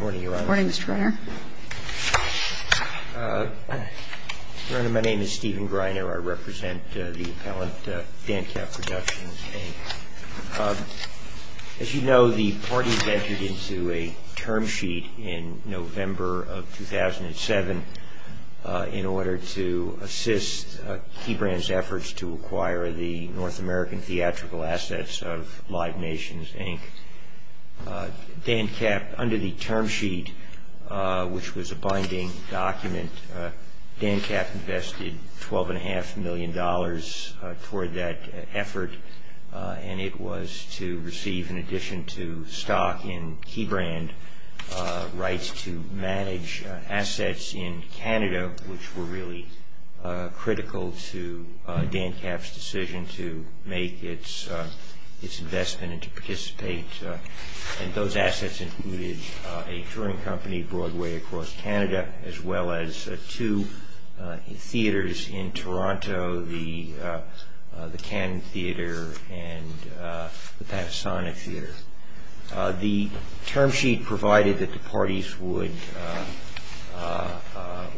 Morning, Your Honor. Morning, Mr. Reiner. Your Honor, my name is Stephen Greiner. I represent the appellant Dancap Productions, Inc. As you know, the party ventured into a term sheet in November of 2007 in order to assist Key Brand's efforts to acquire the North American theatrical assets of Live Nations, Inc. Dancap, under the term sheet, which was a binding document, Dancap invested $12.5 million toward that effort, and it was to receive, in addition to stock in Key Brand, rights to manage assets in Canada, which were really critical to Dancap's decision to make its investment and to participate, and those assets included a touring company, Broadway Across Canada, as well as two theaters in Toronto, the Cannon Theater and the Panasonic Theater. The term sheet provided that the parties would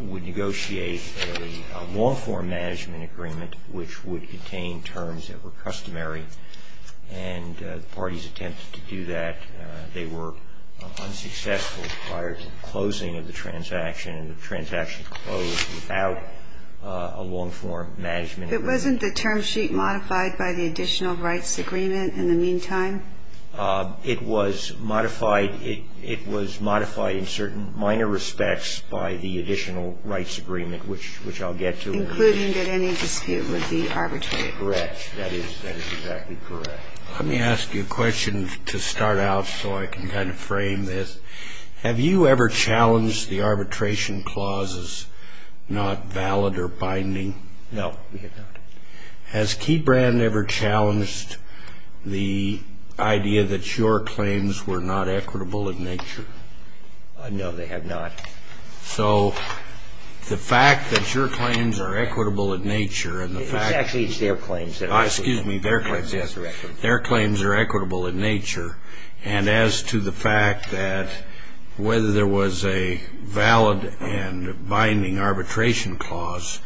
negotiate a law form management agreement, which would contain terms that were customary, and the parties attempted to do that. They were unsuccessful prior to the closing of the transaction, and the transaction closed without a law form management agreement. But wasn't the term sheet modified by the additional rights agreement in the meantime? It was modified in certain minor respects by the additional rights agreement, which I'll get to in a minute. Including that any dispute would be arbitrated? Correct. That is exactly correct. Let me ask you a question to start out so I can kind of frame this. Have you ever challenged the arbitration clauses not valid or binding? No, we have not. Has Key Brand ever challenged the idea that your claims were not equitable in nature? No, they have not. So the fact that your claims are equitable in nature and the fact that... It's actually their claims that are equitable. Excuse me, their claims, yes. Their claims are equitable in nature, and as to the fact that whether there was a valid and binding arbitration clause,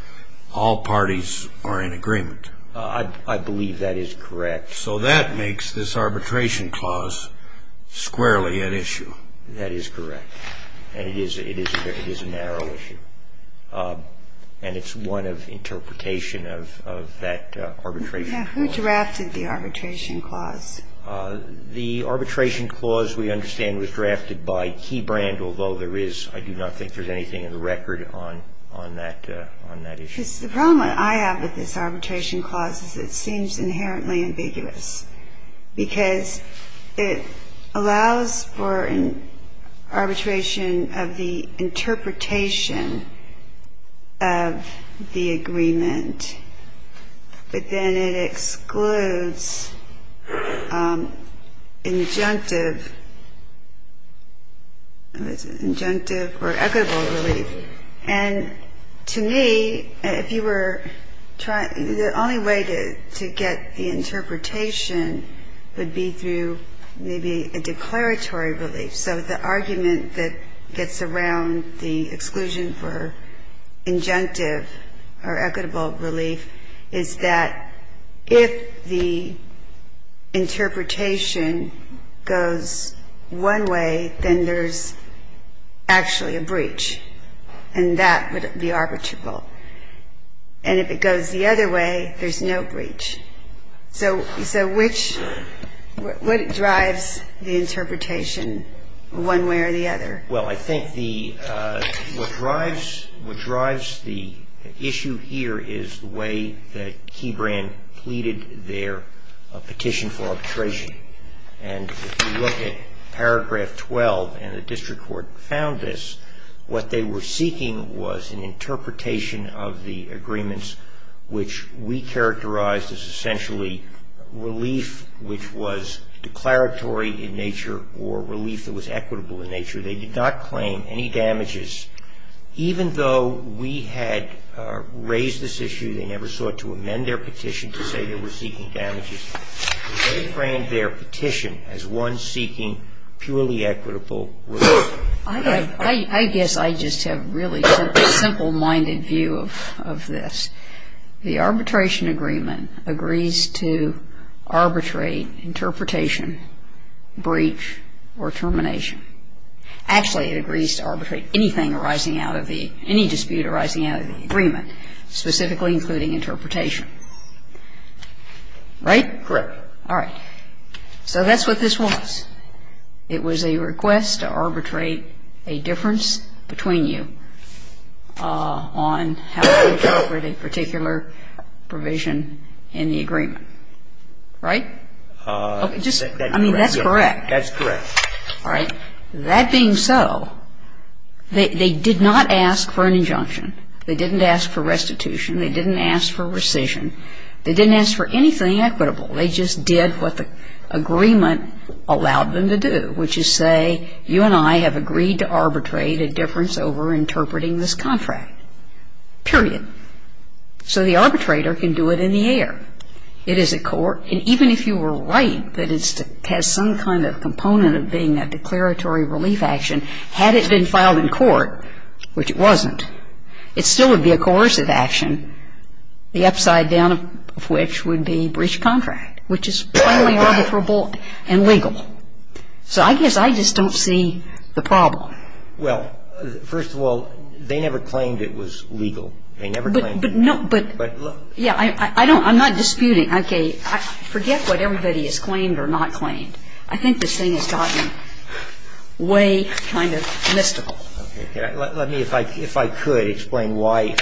all parties are in agreement. I believe that is correct. So that makes this arbitration clause squarely at issue. That is correct. And it is a narrow issue. And it's one of interpretation of that arbitration clause. Now, who drafted the arbitration clause? The arbitration clause, we understand, was drafted by Key Brand, although there is, I do not think there's anything in the record on that issue. Because the problem I have with this arbitration clause is it seems inherently ambiguous, because it allows for arbitration of the interpretation of the agreement, but then it excludes injunctive or equitable relief. And to me, if you were trying, the only way to get the interpretation would be through maybe a declaratory relief. So the argument that gets around the exclusion for injunctive or equitable relief is that if the interpretation goes one way, then there's actually a breach. And that would be arbitrable. And if it goes the other way, there's no breach. So which, what drives the interpretation, one way or the other? Well, I think the, what drives the issue here is the way that Key Brand pleaded their petition for arbitration. And if you look at paragraph 12, and the district court found this, what they were seeking was an interpretation of the agreements which we characterized as essentially relief which was declaratory in nature or relief that was equitable in nature. They did not claim any damages. Even though we had raised this issue, they never sought to amend their petition to say they were seeking damages. They framed their petition as one seeking purely equitable relief. I guess I just have really simple-minded view of this. The arbitration agreement agrees to arbitrate interpretation, breach or termination. Actually, it agrees to arbitrate anything arising out of the, any dispute arising out of the agreement, specifically including interpretation, right? Correct. All right. So that's what this was. It was a request to arbitrate a difference between you on how to interpret a particular provision in the agreement, right? Just, I mean, that's correct. That's correct. All right. That being so, they did not ask for an injunction. They didn't ask for restitution. They didn't ask for rescission. They didn't ask for anything equitable. They just did what the agreement allowed them to do, which is say you and I have agreed to arbitrate a difference over interpreting this contract, period. So the arbitrator can do it in the air. It is a court. And even if you were right that it has some kind of component of being a declaratory relief action, had it been filed in court, which it wasn't, it still would be a coercive action, the upside down of which would be breach of contract, which is plainly arbitrable and legal. So I guess I just don't see the problem. Well, first of all, they never claimed it was legal. They never claimed it was legal. But no, but, yeah, I don't, I'm not disputing. Okay. Forget what everybody has claimed or not claimed. I think this thing has gotten way kind of mystical. Okay. Let me, if I could, explain why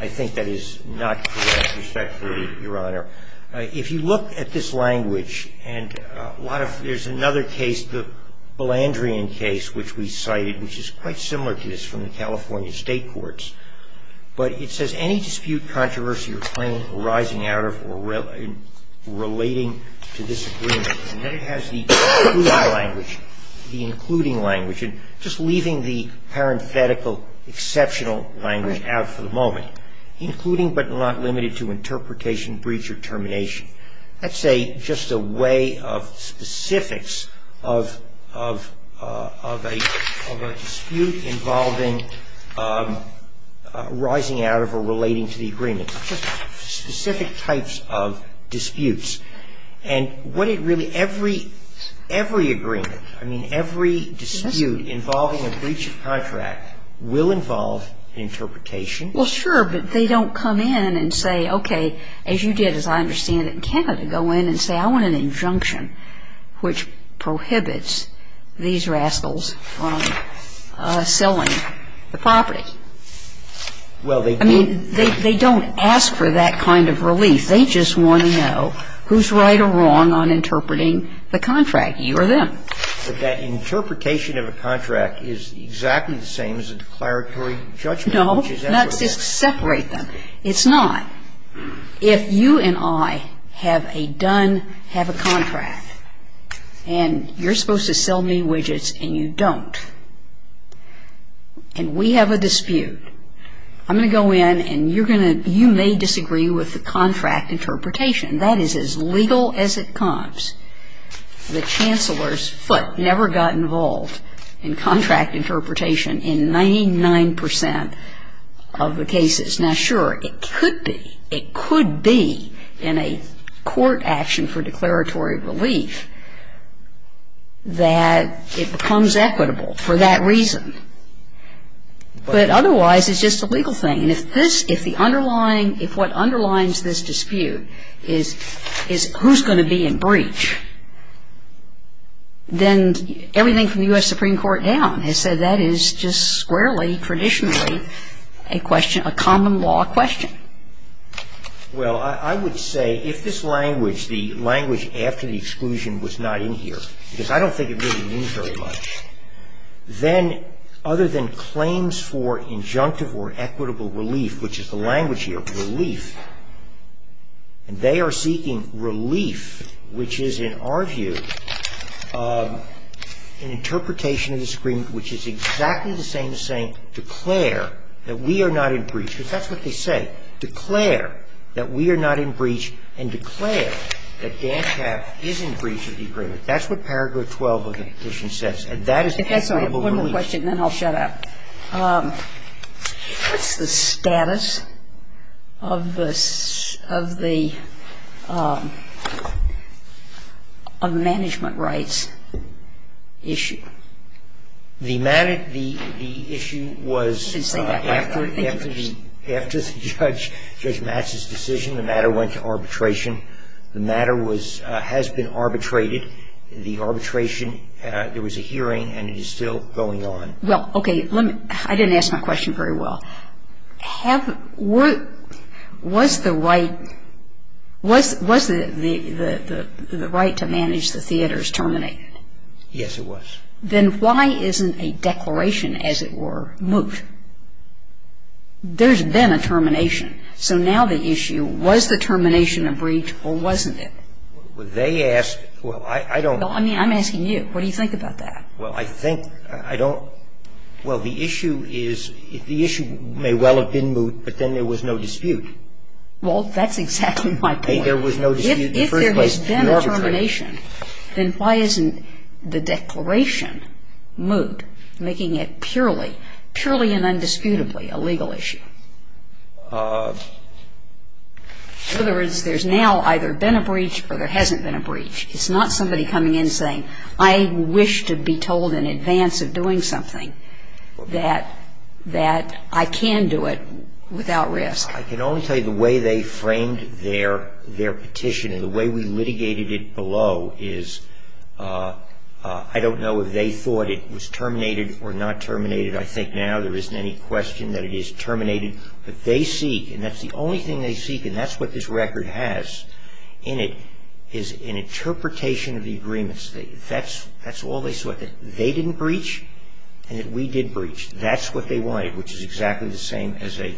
I think that is not correct, respectfully, Your Honor. If you look at this language, and a lot of, there's another case, the Balandrian case, which we cited, which is quite similar to this from the California State Courts, but it says any dispute, controversy, or claim arising out of or relating to this agreement. And then it has the including language, the including language, and just leaving the parenthetical exceptional language out for the moment, including but not limited to interpretation, breach, or termination. That's a, just a way of specifics of a dispute involving arising out of or relating to the agreement. Just specific types of disputes. And what it really, every agreement, I mean, every dispute involving a breach of contract will involve interpretation. Well, sure. But they don't come in and say, okay, as you did, as I understand it, in Canada, go in and say, I want an injunction which prohibits these rascals from selling the property. Well, they do. I mean, they don't ask for that kind of relief. They just want to know who's right or wrong on interpreting the contract, you or them. But that interpretation of a contract is exactly the same as a declaratory judgment. No. Not to separate them. It's not. If you and I have a done, have a contract, and you're supposed to sell me widgets and you don't, and we have a dispute, I'm going to go in and you're going to, you may disagree with the contract interpretation. That is as legal as it comes. The Chancellor's foot never got involved in contract interpretation in 99 percent of the cases. Now, sure, it could be, it could be in a court action for declaratory relief that it becomes equitable for that reason. But otherwise, it's just a legal thing. And if this, if the underlying, if what underlines this dispute is who's going to be in breach, then everything from the U.S. Supreme Court down has said that it is just squarely, traditionally, a question, a common law question. Well, I would say if this language, the language after the exclusion was not in here, because I don't think it really means very much, then other than claims for injunctive or equitable relief, which is the language here, relief, and they are seeking relief, which is, in our view, an interpretation of this agreement which is exactly the same as saying declare that we are not in breach. Because that's what they say. Declare that we are not in breach and declare that Dan Tapp is in breach of the agreement. That's what Paragraph 12 of the Petition says. And that is equitable relief. I have one more question and then I'll shut up. What's the status of the management rights issue? The issue was after the judge, Judge Matz's decision, the matter went to arbitration. The matter was, has been arbitrated. The arbitration, there was a hearing and it is still going on. Well, okay. I didn't ask my question very well. Was the right to manage the theaters terminated? Yes, it was. Then why isn't a declaration, as it were, moot? There's been a termination. So now the issue, was the termination a breach or wasn't it? Well, they asked, well, I don't. I mean, I'm asking you. What do you think about that? Well, I think, I don't. Well, the issue is, the issue may well have been moot, but then there was no dispute. Well, that's exactly my point. There was no dispute in the first place. If there has been a termination, then why isn't the declaration moot, making it purely, purely and undisputably a legal issue? In other words, there's now either been a breach or there hasn't been a breach. It's not somebody coming in saying, I wish to be told in advance of doing something that, that I can do it without risk. I can only tell you the way they framed their, their petition and the way we litigated it below is, I don't know if they thought it was terminated or not terminated. I think now there isn't any question that it is terminated. But they seek, and that's the only thing they seek, and that's what this record has in it, is an interpretation of the agreements. That's, that's all they sought. That they didn't breach and that we did breach. That's what they wanted, which is exactly the same as a,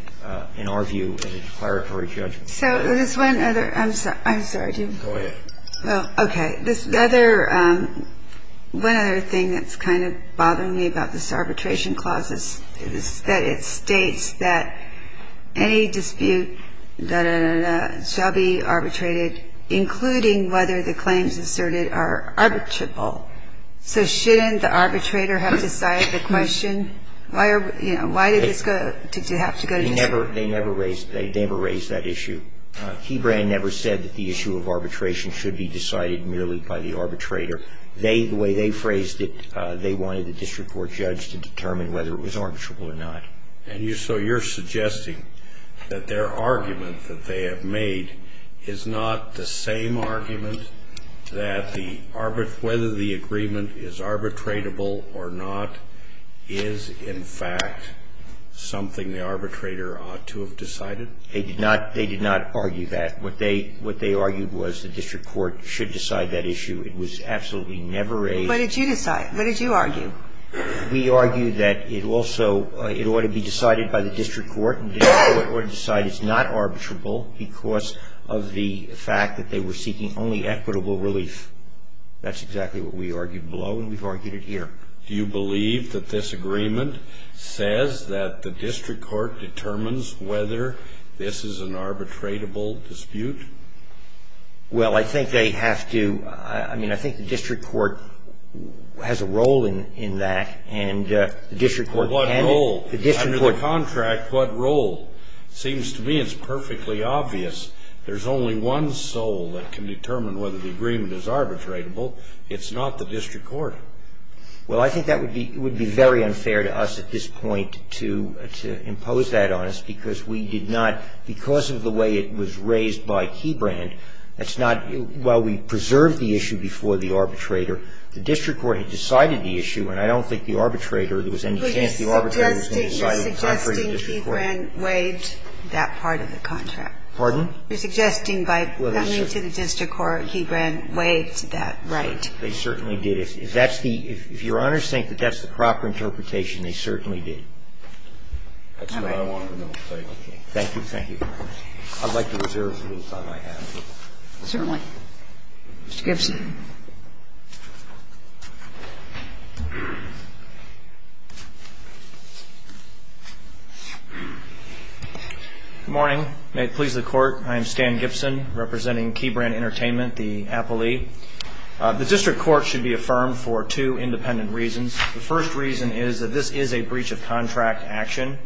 in our view, as a declaratory judgment. So this one other, I'm sorry, I'm sorry. Go ahead. Well, okay. This other, one other thing that's kind of bothering me about this arbitration clause is that it states that any dispute, da, da, da, da, shall be arbitrated including whether the claims asserted are arbitrable. So shouldn't the arbitrator have decided the question? Why are, you know, why did this go, did you have to go to dispute? They never, they never raised, they never raised that issue. Kebran never said that the issue of arbitration should be decided merely by the arbitrator. They, the way they phrased it, they wanted the district court judge to determine whether it was arbitrable or not. And you, so you're suggesting that their argument that they have made is not the same argument that the arbit, whether the agreement is arbitratable or not is, in fact, something the arbitrator ought to have decided? They did not, they did not argue that. What they, what they argued was the district court should decide that issue. It was absolutely never a. What did you decide? What did you argue? We argued that it also, it ought to be decided by the district court and the district court ought to decide it's not arbitrable because of the fact that they were seeking only equitable relief. That's exactly what we argued below and we've argued it here. Do you believe that this agreement says that the district court determines whether this is an arbitratable dispute? Well, I think they have to, I mean, I think the district court has a role in that and the district court can. Well, what role? The district court. Under the contract, what role? It seems to me it's perfectly obvious. There's only one soul that can determine whether the agreement is arbitrable. It's not the district court. Well, I think that would be, it would be very unfair to us at this point to, to impose that on us because we did not, because of the way it was raised by Kebran, that's not, while we preserved the issue before the arbitrator, the district court had decided the issue and I don't think the arbitrator, there was any chance the arbitrator was going to decide it contrary to the district court. You're suggesting Kebran waived that part of the contract? Pardon? You're suggesting by coming to the district court, Kebran waived that right? They certainly did. If that's the, if your Honor's saying that that's the proper interpretation, they certainly did. That's what I wanted to know. Thank you. Thank you. I'd like to observe for the time I have. Certainly. Mr. Gibson. Good morning. May it please the Court. I am Stan Gibson representing Kebran Entertainment, the appellee. The district court should be affirmed for two independent reasons. The first reason is that this is a breach of contract action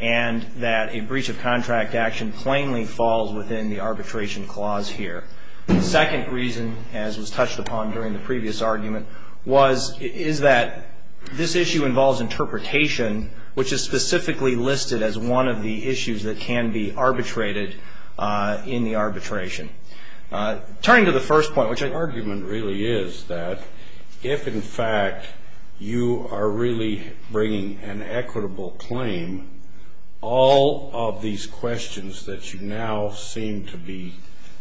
and that a breach of contract action plainly falls within the arbitration clause here. The second reason, as was touched upon during the previous argument, was, is that this issue involves interpretation, which is specifically listed as one of the issues that can be arbitrated in the arbitration. Turning to the first point, which the argument really is that if, in fact, you are really bringing an equitable claim, all of these questions that you now seem to be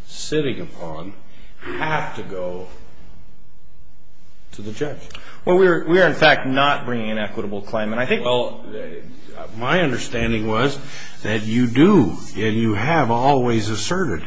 sitting upon have to go to the judge. Well, we are, in fact, not bringing an equitable claim. And I think, well, my understanding was that you do and you have always asserted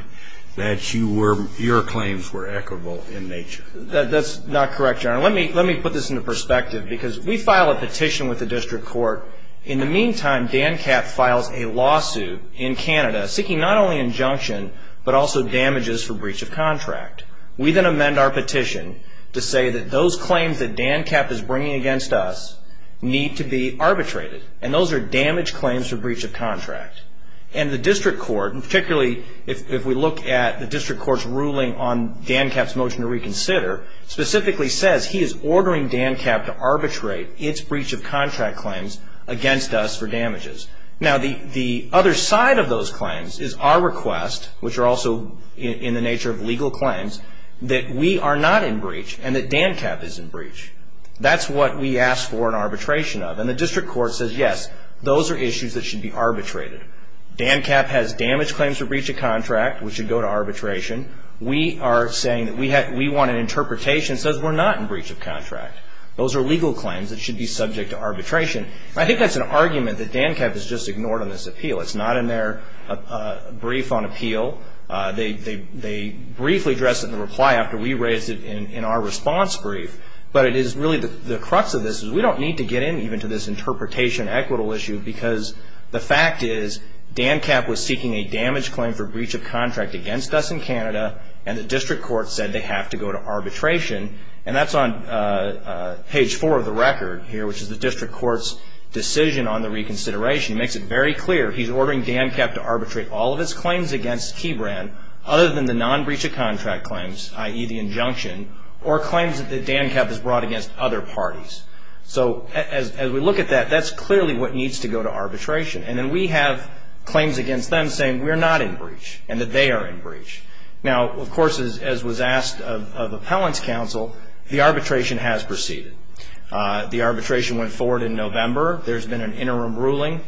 that you were, your claims were equitable in nature. That's not correct, Your Honor. Let me, let me put this into perspective because we file a petition with the district court. In the meantime, DanCAP files a lawsuit in Canada seeking not only injunction but also damages for breach of contract. We then amend our petition to say that those claims that DanCAP is bringing against us need to be arbitrated. And those are damaged claims for breach of contract. And the district court, and particularly if we look at the district court's ruling on DanCAP's motion to reconsider, specifically says he is ordering DanCAP to arbitrate its breach of contract claims against us for damages. Now, the other side of those claims is our request, which are also in the nature of legal claims, that we are not in breach and that DanCAP is in breach. That's what we ask for an arbitration of. And the district court says, yes, those are issues that should be arbitrated. DanCAP has damaged claims for breach of contract. We should go to arbitration. We are saying that we want an interpretation that says we're not in breach of contract. Those are legal claims that should be subject to arbitration. And I think that's an argument that DanCAP has just ignored on this appeal. It's not in their brief on appeal. They briefly addressed it in the reply after we raised it in our response brief. But it is really the crux of this is we don't need to get in even to this interpretation and equitable issue because the fact is DanCAP was seeking a damage claim for breach of contract against us in Canada, and the district court said they have to go to arbitration. And that's on page 4 of the record here, which is the district court's decision on the reconsideration. It makes it very clear he's ordering DanCAP to arbitrate all of its claims against Keybrand other than the non-breach of contract claims, i.e. the injunction, or claims that DanCAP has brought against other parties. So as we look at that, that's clearly what needs to go to arbitration. And then we have claims against them saying we're not in breach and that they are in breach. Now, of course, as was asked of appellant's counsel, the arbitration has proceeded. The arbitration went forward in November. There's been an interim ruling.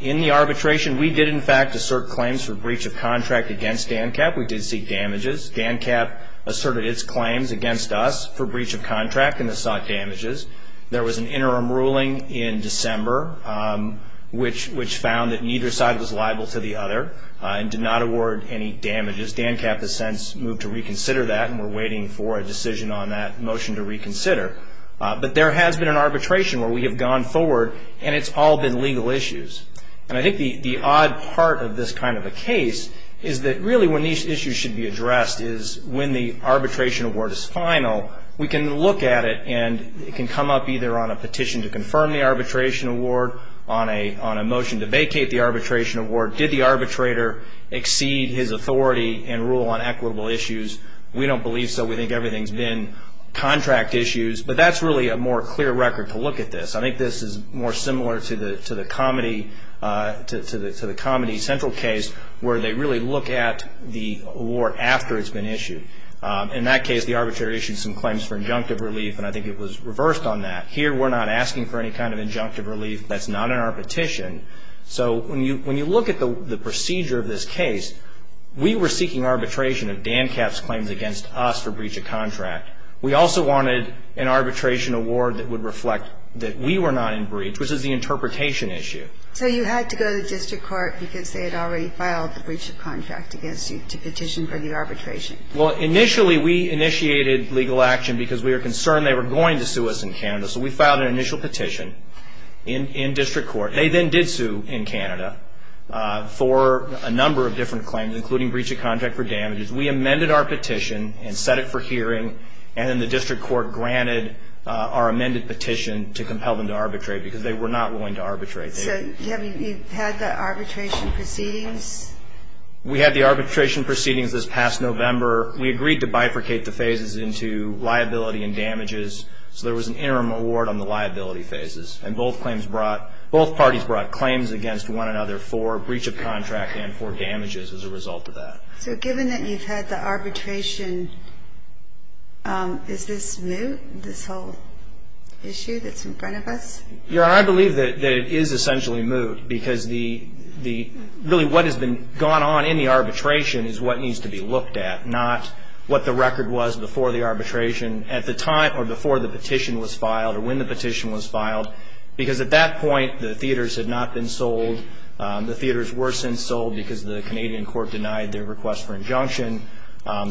In the arbitration, we did, in fact, assert claims for breach of contract against DanCAP. We did seek damages. DanCAP asserted its claims against us for breach of contract, and they sought damages. There was an interim ruling in December, which found that neither side was liable to the other and did not award any damages. DanCAP has since moved to reconsider that, and we're waiting for a decision on that motion to reconsider. But there has been an arbitration where we have gone forward, and it's all been legal issues. And I think the odd part of this kind of a case is that really when these issues should be addressed is when the arbitration award is final, we can look at it, and it can come up either on a petition to confirm the arbitration award, on a motion to vacate the arbitration award. Did the arbitrator exceed his authority and rule on equitable issues? We don't believe so. We think everything's been contract issues. But that's really a more clear record to look at this. I think this is more similar to the Comedy Central case, where they really look at the award after it's been issued. In that case, the arbitrator issued some claims for injunctive relief, and I think it was reversed on that. Here we're not asking for any kind of injunctive relief. That's not in our petition. So when you look at the procedure of this case, we were seeking arbitration of DanCAP's claims against us for breach of contract. We also wanted an arbitration award that would reflect that we were not in breach, which is the interpretation issue. So you had to go to the district court because they had already filed the breach of contract against you to petition for the arbitration. Well, initially we initiated legal action because we were concerned they were going to sue us in Canada. So we filed an initial petition in district court. They then did sue in Canada for a number of different claims, including breach of contract for damages. We amended our petition and set it for hearing, and then the district court granted our amended petition to compel them to arbitrate because they were not willing to arbitrate. So have you had the arbitration proceedings? We had the arbitration proceedings this past November. We agreed to bifurcate the phases into liability and damages, so there was an interim award on the liability phases. And both parties brought claims against one another for breach of contract and for damages as a result of that. So given that you've had the arbitration, is this moot, this whole issue that's in front of us? Yeah, I believe that it is essentially moot because really what has gone on in the arbitration is what needs to be looked at, not what the record was before the arbitration at the time or before the petition was filed or when the petition was filed, because at that point the theaters had not been sold. The theaters were since sold because the Canadian court denied their request for injunction.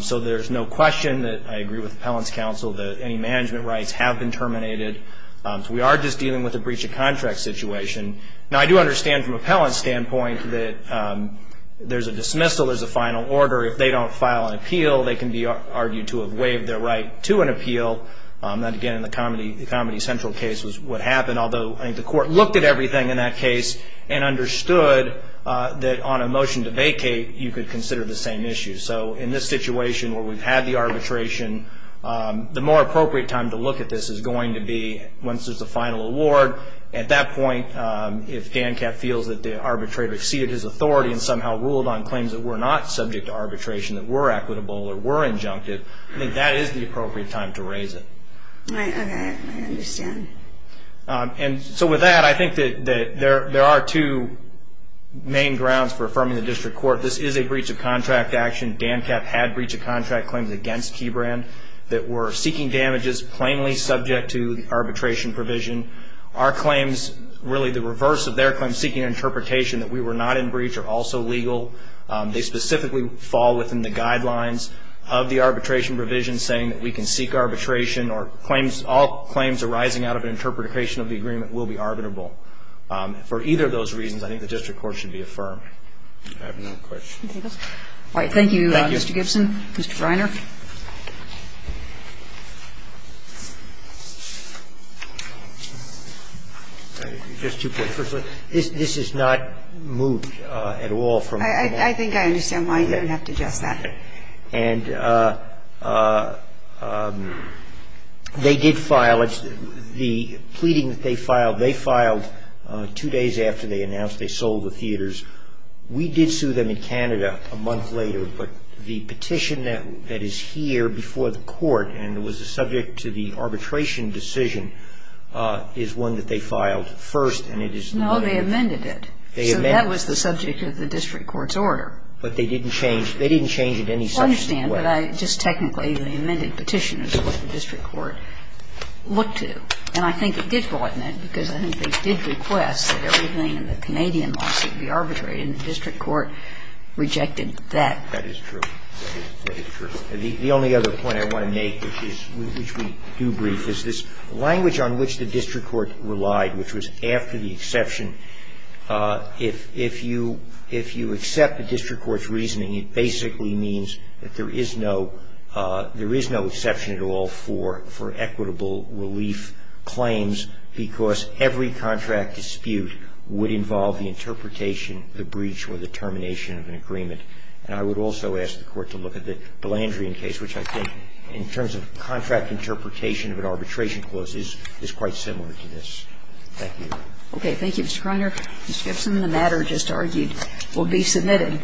So there's no question that I agree with Appellant's counsel that any management rights have been terminated. So we are just dealing with a breach of contract situation. Now, I do understand from Appellant's standpoint that there's a dismissal, there's a final order. If they don't file an appeal, they can be argued to have waived their right to an appeal. That, again, in the Comedy Central case was what happened, although I think the court looked at everything in that case and understood that on a motion to vacate, you could consider the same issue. So in this situation where we've had the arbitration, the more appropriate time to look at this is going to be once there's a final award. At that point, if Gancat feels that the arbitrator exceeded his authority and somehow ruled on claims that were not subject to arbitration, that were equitable or were injunctive, I think that is the appropriate time to raise it. I understand. And so with that, I think that there are two main grounds for affirming the district court. This is a breach of contract action. Gancat had breach of contract claims against Keybrand that were seeking damages plainly subject to the arbitration provision. Our claims, really the reverse of their claims, seeking an interpretation that we were not in breach are also legal. They specifically fall within the guidelines of the arbitration provision, saying that we can seek arbitration or claims, all claims arising out of an interpretation of the agreement will be arbitrable. For either of those reasons, I think the district court should be affirmed. I have no questions. All right. Thank you, Mr. Gibson. Thank you. Mr. Greiner. Just two points. Firstly, this is not moved at all from the motion. I think I understand why you didn't have to address that. And they did file it. The pleading that they filed, they filed two days after they announced they sold the theaters. We did sue them in Canada a month later, but the petition that is here before the court and was subject to the arbitration decision is one that they filed first. No, they amended it. They amended it. So that was the subject of the district court's order. But they didn't change it. They didn't change it in any such way. I understand. But I just technically, the amended petition is what the district court looked to. And I think it did go out in it because I think they did request that everything in the Canadian lawsuit be arbitrated, and the district court rejected that. That is true. That is true. The only other point I want to make, which we do brief, is this language on which the district court relied, which was after the exception, if you accept the district court's reasoning, it basically means that there is no exception at all for equitable relief claims because every contract dispute would involve the interpretation, the breach, or the termination of an agreement. And I would also ask the Court to look at the Blandrian case, which I think in terms of contract interpretation of an arbitration clause is quite similar to this. Thank you. Okay. Thank you, Mr. Kreiner. Ms. Gibson, the matter just argued will be submitted.